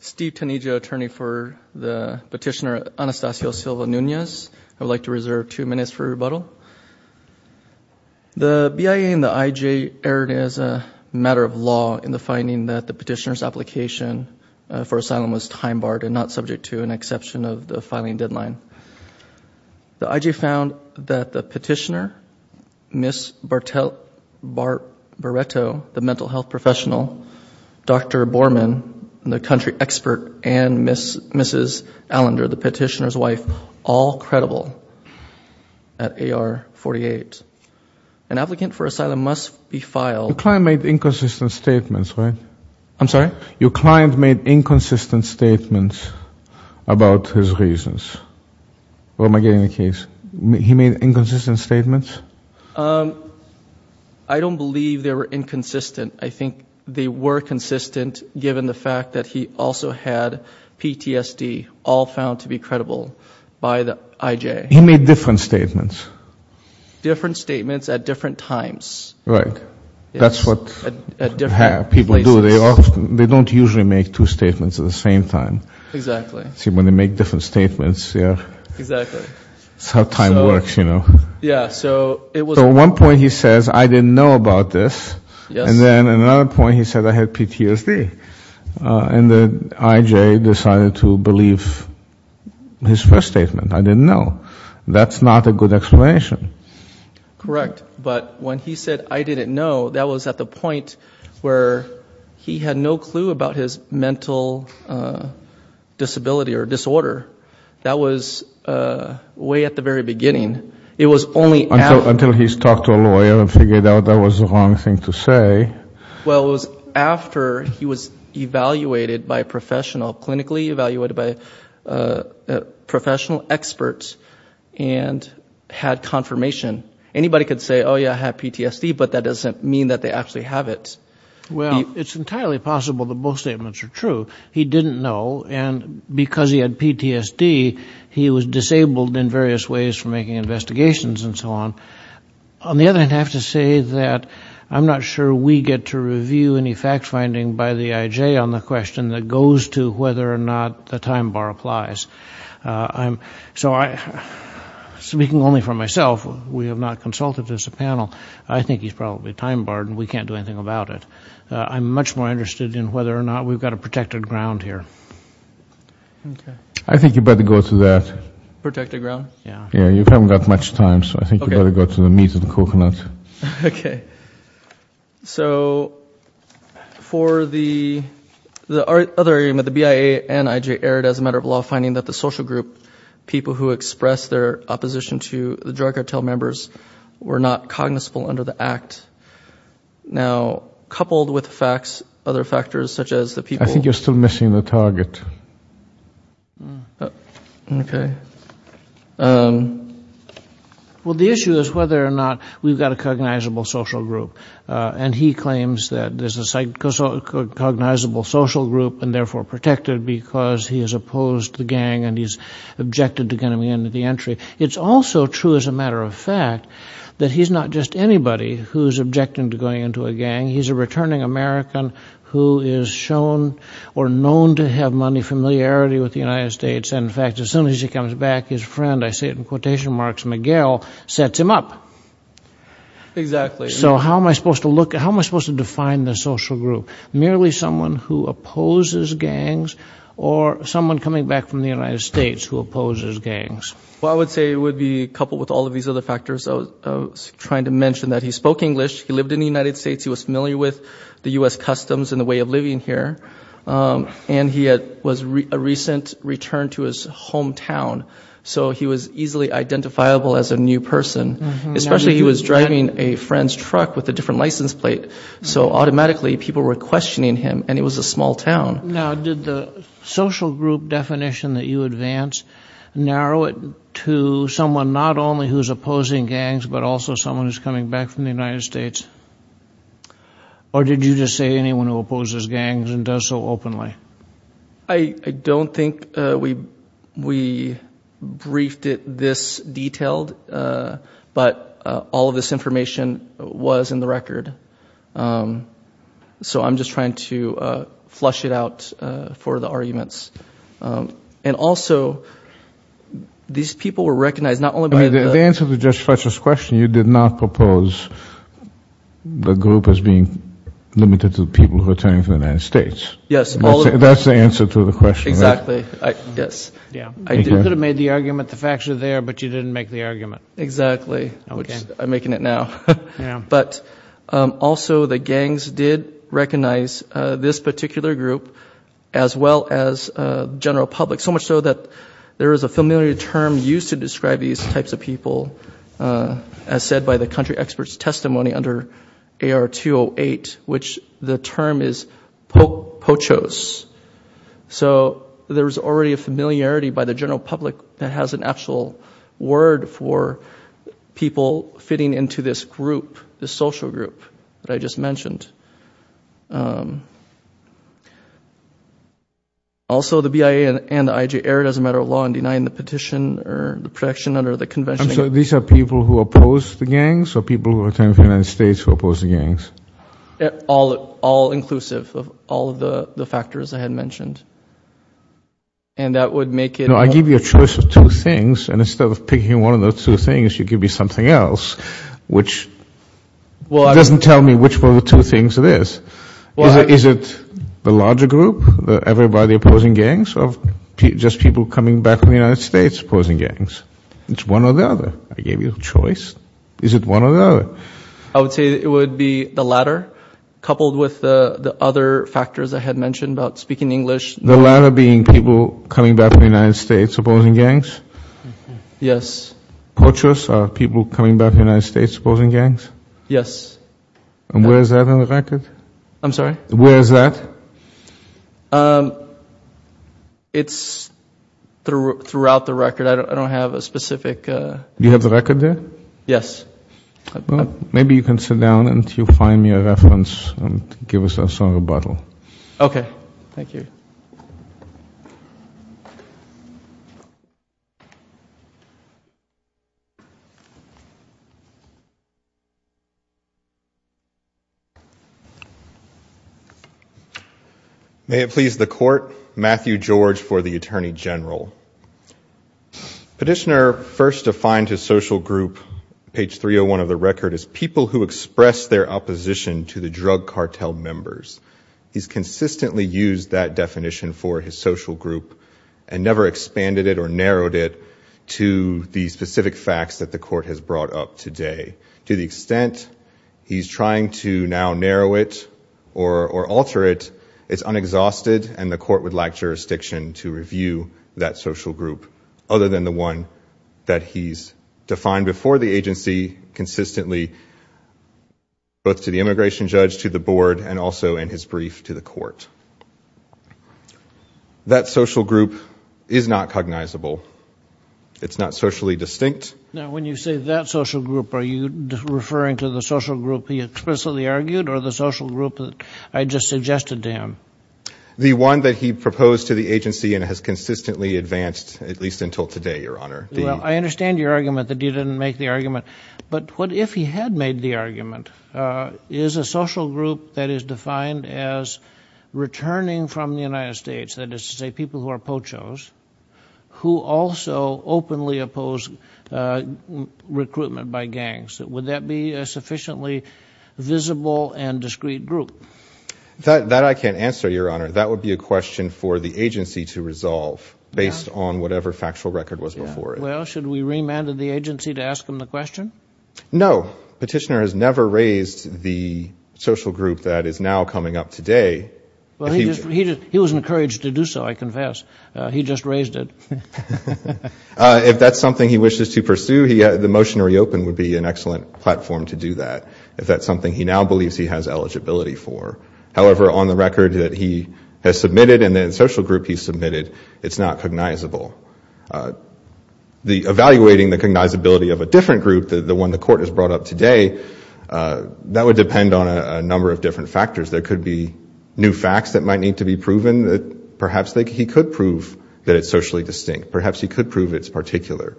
Steve Tanigia, attorney for the petitioner Anastacio Silva-Nunez. I would like to reserve two minutes for rebuttal. The BIA and the IJ erred as a matter of law in the finding that the petitioner's application for asylum was time-barred and not subject to an exception of the filing deadline. The IJ found that the Mr. Borman, the country expert, and Mrs. Allender, the petitioner's wife, all credible at AR 48. An applicant for asylum must be filed. Your client made inconsistent statements, right? I'm sorry? Your client made inconsistent statements about his reasons. What am I getting the case? He made inconsistent statements? I don't believe they were inconsistent. I think they were consistent given the fact that he also had PTSD, all found to be credible by the IJ. He made different statements? Different statements at different times. Right. That's what people do. They don't usually make two statements at the same time. Exactly. See, when they make different statements, yeah. Exactly. That's how time works, you know. Yeah, so it was one point he says, I didn't know about this. Yes. And then another point he said, I had PTSD. And the IJ decided to believe his first statement, I didn't know. That's not a good explanation. Correct. But when he said, I didn't know, that was at the point where he had no clue about his mental disability or disorder. That was way at the very beginning. Until he's talked to a lawyer and figured out that was the wrong thing to say. Well, it was after he was evaluated by professional, clinically evaluated by professional experts and had confirmation. Anybody could say, oh yeah, I have PTSD, but that doesn't mean that they actually have it. Well, it's entirely possible that both statements are true. He didn't know, and because he had PTSD, he was disabled in various ways from making investigations and so on. On the other hand, I have to say that I'm not sure we get to review any fact-finding by the IJ on the question that goes to whether or not the time bar applies. So speaking only for myself, we have not consulted as a panel, I think he's probably time-barred and we can't do anything about it. I'm much more interested in whether or not we've got a protected ground here. I think you better go to that. Protected ground? Yeah. Yeah, you haven't got much time, so I think you better go to the meat and coconut. So for the other area, the BIA and IJ erred as a matter of law, finding that the social group people who expressed their opposition to the drug cartel members were not cognizable under the act. Now, coupled with facts, other factors such as the people... I think you're still missing the target. Okay. Well, the issue is whether or not we've got a cognizable social group, and he claims that there's a cognizable social group and therefore protected because he has opposed the gang and he's objected to getting me into the entry. It's also true as a matter of fact that he's not just anybody who's objecting to going into a gang. He's a returning American who is shown or known to have money familiarity with the United States. And in fact, as soon as he comes back, his friend, I say it in quotation marks, Miguel, sets him up. Exactly. So how am I supposed to define the social group? Merely someone who opposes gangs or someone coming back from the United States who opposes gangs? Well, I would say it would be coupled with all of these other factors. I was trying to mention that he spoke English. He lived in the United States. He was familiar with the U.S. customs and the way of living here. And he was a recent return to his hometown. So he was easily identifiable as a new person, especially he was driving a friend's truck with a different license plate. So automatically people were questioning him and it was a small town. Now, did the social group definition that you advance narrow it to someone not only who's opposing gangs, but also someone who's coming back from the United States? Or did you just say anyone who opposes gangs and does so openly? I don't think we briefed it this detailed, but all of this information was in the record. Um, so I'm just trying to, uh, flush it out, uh, for the arguments. Um, and also these people were recognized, not only by the answer to just Fletcher's question, you did not propose the group as being limited to the people who are turning to the United States. Yes. That's the answer to the question. Exactly. I guess I could have made the argument, the facts are there, but you didn't make the argument. Exactly. I'm making it now, but, um, also the gangs did recognize, uh, this particular group as well as, uh, general public. So much so that there is a familiar term used to describe these types of people, uh, as said by the country experts testimony under AR 208, which the term is POCHOS. So there was already a familiarity by the general public that has an actual word for people fitting into this the social group that I just mentioned. Um, also the BIA and the IJ error doesn't matter a lot in denying the petition or the protection under the convention. So these are people who oppose the gangs or people who are turning to the United States who oppose the gangs? All, all inclusive of all of the factors I had mentioned. And that would make it... No, I give you a choice of two things. And instead of picking one of those two things, you could be something else, which doesn't tell me which one of the two things it is. Is it the larger group, everybody opposing gangs or just people coming back from the United States opposing gangs? It's one or the other. I gave you a choice. Is it one or the other? I would say it would be the latter coupled with the other factors I had mentioned about speaking English. The latter being people coming back from the United States opposing gangs? Yes. Poachers are people coming back from the United States opposing gangs? Yes. And where is that on the record? I'm sorry? Where is that? Um, it's throughout the record. I don't have a specific... You have the record there? Yes. Maybe you can sit down and you find me a reference and give us a bottle. Okay. Thank you. May it please the court, Matthew George for the Attorney General. Petitioner first defined his social group, page 301 of the record, as people who express their opposition to the drug cartel members. He's consistently used that definition for his social group and never expanded it or narrowed it to the specific facts that the court has brought up today. To the extent he's trying to now narrow it or alter it, it's unexhausted and the court would lack jurisdiction to review that social group other than the one that he's defined before the agency consistently, both to the immigration judge, to the board, and also in his brief to the court. That social group is not cognizable. It's not socially distinct. Now, when you say that social group, are you referring to the social group he explicitly argued or the social group that I just suggested to him? The one that he proposed to the agency and has consistently advanced, at least until today, Your Honor. Well, I understand your argument that you didn't make the argument, but what if he had made the argument? Is a social group that is defined as returning from the United States, that is to say people who are pochos, who also openly oppose recruitment by gangs, would that be a sufficiently visible and discreet group? That I can't answer, Your Honor. That would be a question for the agency to resolve based on whatever factual record was before it. Well, should we remanded the agency to ask him the question? No. Petitioner has never raised the social group that is now coming up today. Well, he was encouraged to do so, I confess. He just raised it. If that's something he wishes to pursue, the motion to reopen would be an excellent platform to do that if that's something he now believes he has eligibility for. However, on the record that he has submitted and the social group he submitted, it's not cognizable. Evaluating the cognizability of a different group, the one the court has brought up today, that would depend on a number of different factors. There could be new facts that might need to be proven. Perhaps he could prove that it's socially distinct. Perhaps he could prove it's particular.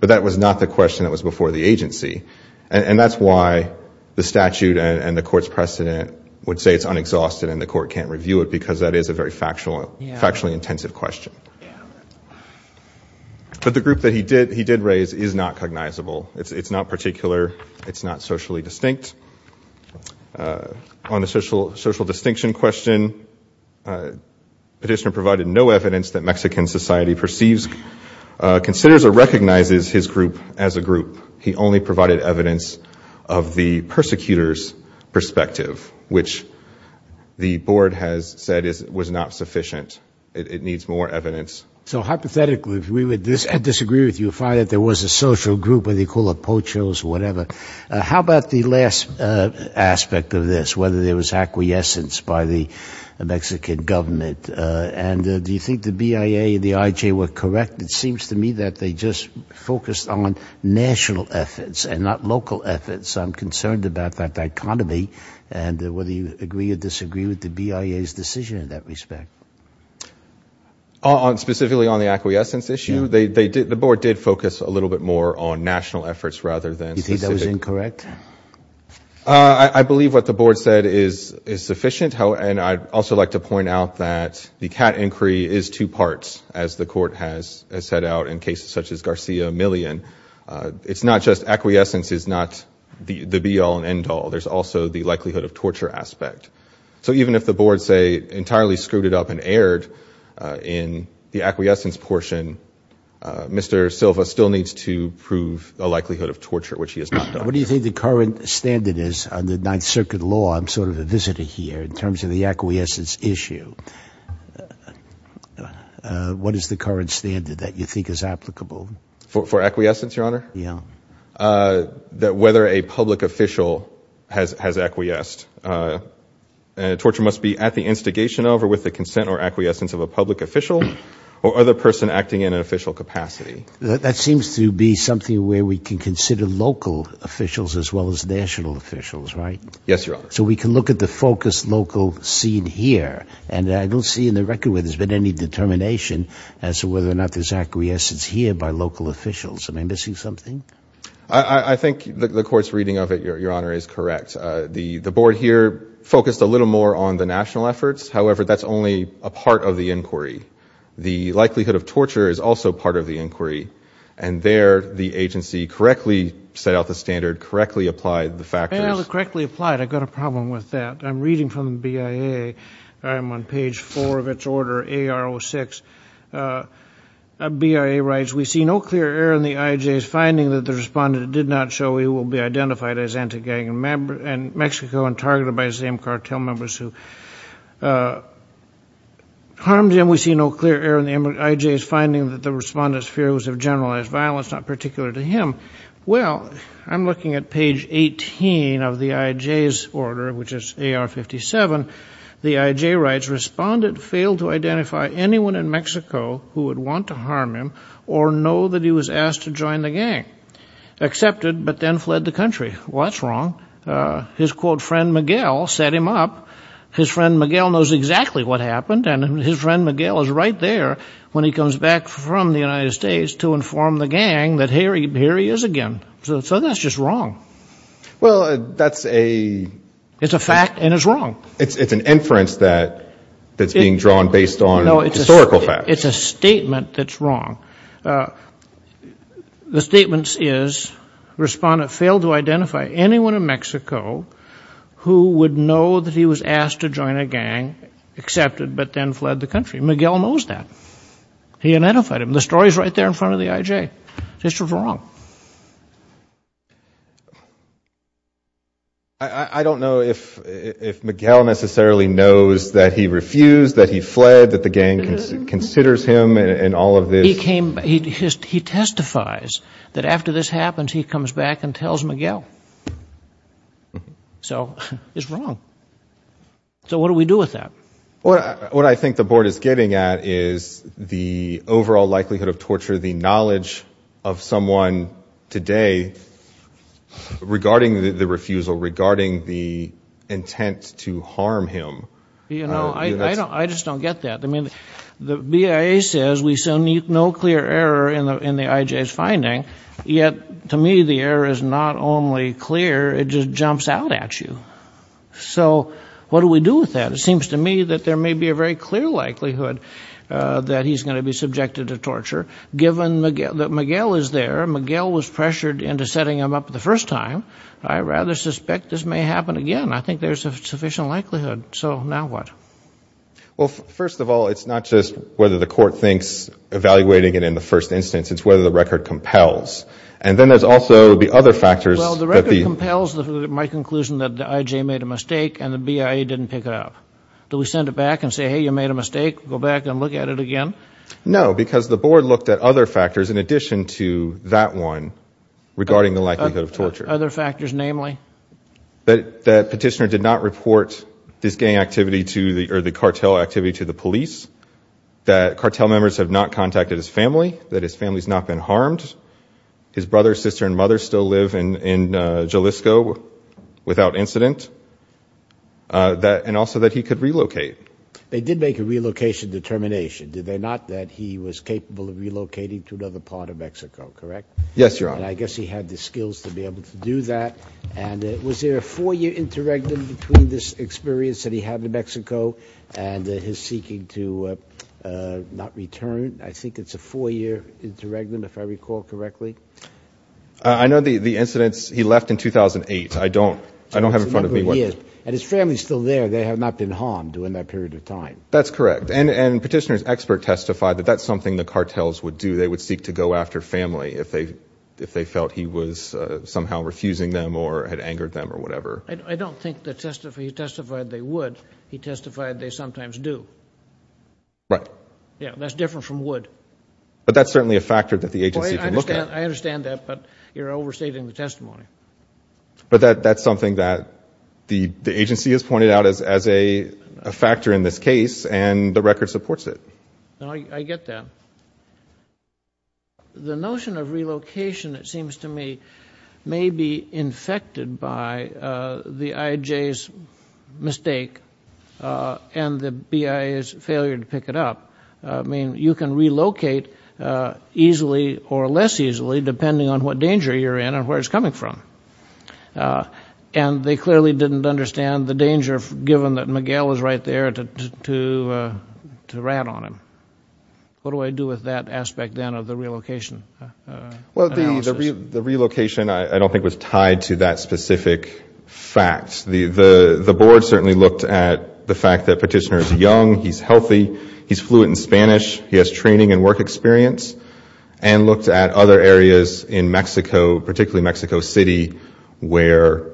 But that was not the question that was before the agency. And that's why the statute and the court's precedent would say it's unexhausted and the court can't review it because that is a very factually intensive question. But the group that he did raise is not cognizable. It's not particular. It's not socially distinct. On the social distinction question, petitioner provided no evidence that Mexican society perceives, considers, or recognizes his group as a group. He only provided evidence of the persecutor's perspective, which the board has said was not sufficient. It needs more evidence. So hypothetically, if we would disagree with you, find that there was a social group, whether you call it pochos or whatever, how about the last aspect of this, whether there was acquiescence by the Mexican government? And do you think the BIA and the IJ were correct? It seems to me that they just focused on national efforts and not local efforts. I'm concerned about that dichotomy and whether you agree or disagree with the BIA's decision in that respect. Specifically on the acquiescence issue, the board did focus a little bit more on national efforts rather than specific. You think that was incorrect? I believe what the board said is sufficient. And I'd also like to point out that the CAT inquiry is two parts, as the court has set out in cases such as Garcia-Millian. It's not just acquiescence is not the be-all and end-all. There's also the likelihood of torture aspect. So even if the board, say, entirely screwed it up and erred in the acquiescence portion, Mr. Silva still needs to prove a likelihood of torture, which he has not done. What do you think the current standard is on the Ninth Circuit law? I'm sort of a visitor here in terms of the acquiescence issue. What is the current standard that you think is applicable? For acquiescence, Your Honor? Yeah. Whether a public official has acquiesced. Torture must be at the instigation over with the consent or acquiescence of a public official or other person acting in an official capacity. That seems to be something where we can consider local officials as well as national officials, right? Yes, Your Honor. So we can look at the focused local scene here. And I don't see in the record where there's been any determination as to whether or not there's acquiescence here by local officials. Am I missing something? I think the court's reading of it, Your Honor, is correct. The board here focused a little more on the national efforts. However, that's only a part of the inquiry. The likelihood of torture is also part of the inquiry. And there, the agency correctly set out the standard, correctly applied the factors. And it was correctly applied. I've got a problem with that. I'm reading from the BIA. I'm on page four of its order, AR06. BIA writes, we see no clear error in the IJ's finding that the respondent did not show he will be identified as anti-gang in Mexico and targeted by the same cartel members who harmed him. We see no clear error in the IJ's finding that the respondent's fear was of generalized violence, not particular to him. Well, I'm looking at page 18 of the IJ's order, which is AR57. The IJ writes, respondent failed to identify anyone in Mexico who would want to harm him or know that he was asked to join the gang. Accepted, but then fled the country. Well, that's wrong. His, quote, friend Miguel set him up. His friend Miguel knows exactly what happened. And his friend Miguel is right there when he comes back from the United States to inform the gang that here he is again. So that's just wrong. Well, that's a... It's a fact and it's wrong. It's an inference that's being drawn based on historical facts. It's a statement that's wrong. The statement is, respondent failed to identify anyone in Mexico who would know that he was asked to join a gang. Accepted, but then fled the country. Miguel knows that. He identified him. The story's right there in front of the IJ. It's just wrong. I don't know if Miguel necessarily knows that he refused, that he fled, that the gang considers him in all of this. He testifies that after this happens, he comes back and tells Miguel. So it's wrong. So what do we do with that? What I think the board is getting at is the overall likelihood of torture, the knowledge of someone today regarding the refusal, regarding the intent to harm him. You know, I just don't get that. The BIA says we still need no clear error in the IJ's finding, yet to me the error is not only clear, it just jumps out at you. So what do we do with that? It seems to me that there may be a very clear likelihood that he's going to be subjected to torture, given that Miguel is there. Miguel was pressured into setting him up the first time. I rather suspect this may happen again. I think there's a sufficient likelihood. So now what? Well, first of all, it's not just whether the court thinks evaluating it in the first instance, it's whether the record compels. And then there's also the other factors. Well, the record compels my conclusion that the IJ made a mistake and the BIA didn't pick it up. Do we send it back and say, hey, you made a mistake, go back and look at it again? No, because the board looked at other factors in addition to that one regarding the likelihood of torture. Other factors, namely? That petitioner did not report this gang activity to the cartel activity to the police. That cartel members have not contacted his family. That his family's not been harmed. His brother, sister and mother still live in Jalisco without incident. And also that he could relocate. They did make a relocation determination, did they? Not that he was capable of relocating to another part of Mexico, correct? Yes, Your Honor. I guess he had the skills to be able to do that. And was there a four-year interregnum between this experience that he had in Mexico and his seeking to not return? I think it's a four-year interregnum, if I recall correctly. I know the incidents, he left in 2008. I don't have in front of me. And his family's still there. They have not been harmed during that period of time. That's correct. And petitioner's expert testified that that's something the cartels would do. If they felt he was somehow refusing them or had angered them or whatever. I don't think he testified they would. He testified they sometimes do. Right. Yeah, that's different from would. But that's certainly a factor that the agency can look at. I understand that, but you're overstating the testimony. But that's something that the agency has pointed out as a factor in this case. And the record supports it. No, I get that. Well, the notion of relocation, it seems to me, may be infected by the IJ's mistake and the BIA's failure to pick it up. I mean, you can relocate easily or less easily, depending on what danger you're in and where it's coming from. And they clearly didn't understand the danger, given that Miguel is right there to rat on him. What do I do with that aspect, then, of the relocation analysis? Well, the relocation, I don't think, was tied to that specific fact. The board certainly looked at the fact that petitioner is young, he's healthy, he's fluent in Spanish, he has training and work experience, and looked at other areas in Mexico, particularly Mexico City, where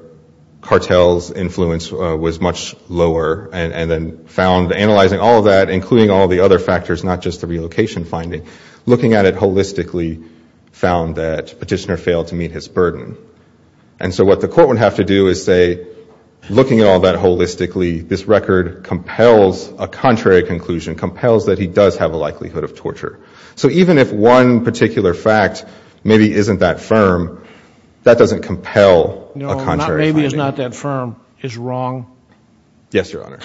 cartels' influence was much lower. And then found, analyzing all of that, including all the other factors, not just the relocation finding, looking at it holistically, found that petitioner failed to meet his burden. And so what the court would have to do is say, looking at all that holistically, this record compels a contrary conclusion, compels that he does have a likelihood of torture. So even if one particular fact maybe isn't that firm, that doesn't compel a contrary finding. No, not maybe is not that firm, is wrong. Yes, Your Honor.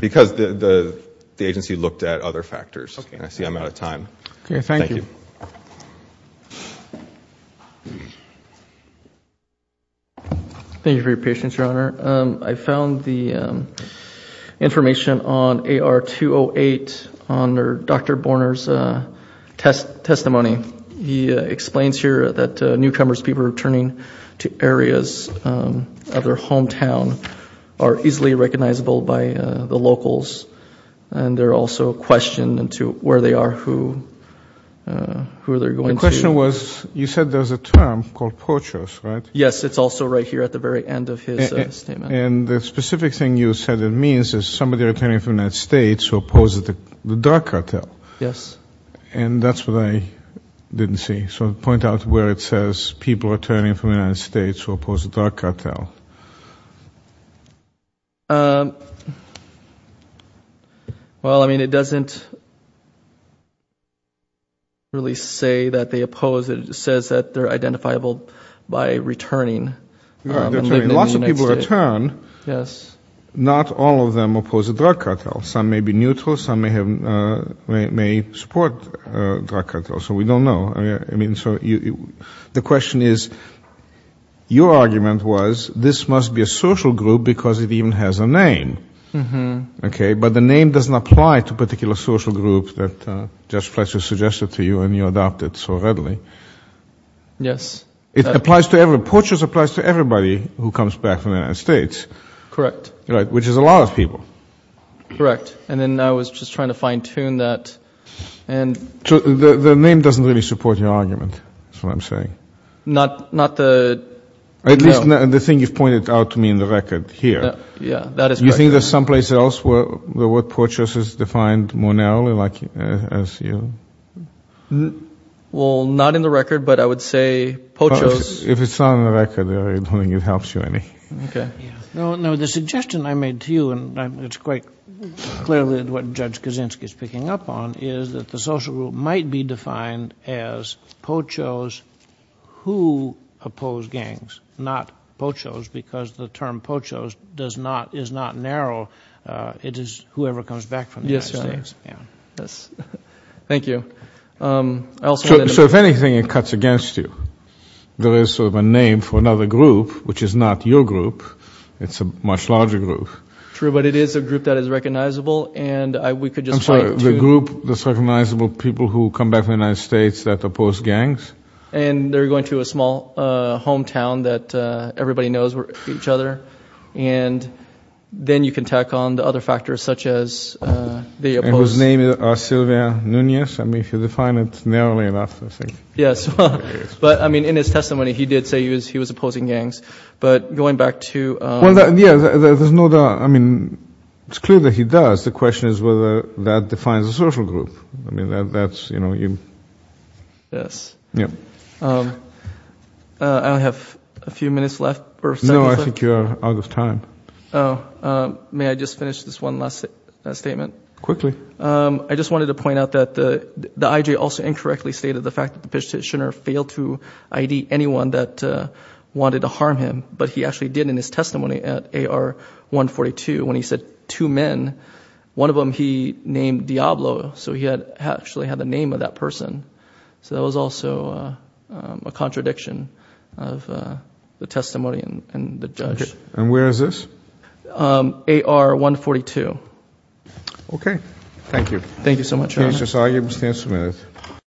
Because the agency looked at other factors. I see I'm out of time. Okay, thank you. Thank you for your patience, Your Honor. I found the information on AR-208 under Dr. Borner's testimony. He explains here that newcomers, people returning to areas of their hometown are easily recognizable by the locals. And they're also questioned into where they are, who they're going to. The question was, you said there's a term called poachers, right? Yes, it's also right here at the very end of his statement. And the specific thing you said it means is somebody returning from the United States who opposes the drug cartel. Yes. And that's what I didn't see. So point out where it says people returning from the United States who oppose the drug cartel. Um, well, I mean, it doesn't really say that they oppose it. It says that they're identifiable by returning. Lots of people return. Yes. Not all of them oppose the drug cartel. Some may be neutral. Some may have may support drug cartel. So we don't know. I mean, so the question is, your argument was, this must be a social group because it even has a name. Okay, but the name doesn't apply to particular social groups that Judge Fletcher suggested to you and you adopted so readily. Yes. It applies to every, poachers applies to everybody who comes back from the United States. Correct. Right, which is a lot of people. Correct. And then I was just trying to fine tune that. The name doesn't really support your argument. That's what I'm saying. Not, not the. At least the thing you've pointed out to me in the record here. Yeah, that is correct. You think there's someplace else where the word poachers is defined more narrowly like as you. Well, not in the record, but I would say poachers. If it's not on the record, I don't think it helps you any. Okay. No, no, the suggestion I made to you, and it's quite clearly what Judge Kaczynski is picking up on, is that the social group might be defined as poachers who oppose gangs, not poachers, because the term poachers does not, is not narrow. It is whoever comes back from the United States. Thank you. So if anything, it cuts against you. There is sort of a name for another group, which is not your group. It's a much larger group. True, but it is a group that is recognizable. And we could just. The group that's recognizable people who come back from the United States that oppose gangs. And they're going to a small hometown that everybody knows each other. And then you can tack on the other factors such as. Whose name is Sylvia Nunez. I mean, if you define it narrowly enough, I think. Yes, but I mean, in his testimony, he did say he was opposing gangs, but going back to. Well, yeah, there's no doubt. I mean, it's clear that he does. The question is whether that defines a social group. I mean, that's, you know, you. Yes. I have a few minutes left. No, I think you're out of time. Oh, may I just finish this one last statement quickly? I just wanted to point out that the IJ also incorrectly stated the fact that the petitioner failed to ID anyone that wanted to harm him. But he actually did in his testimony at AR 142 when he said two men. One of them, he named Diablo. So he had actually had the name of that person. So that was also a contradiction of the testimony and the judge. And where is this? AR 142. OK, thank you. Thank you so much. Thank you.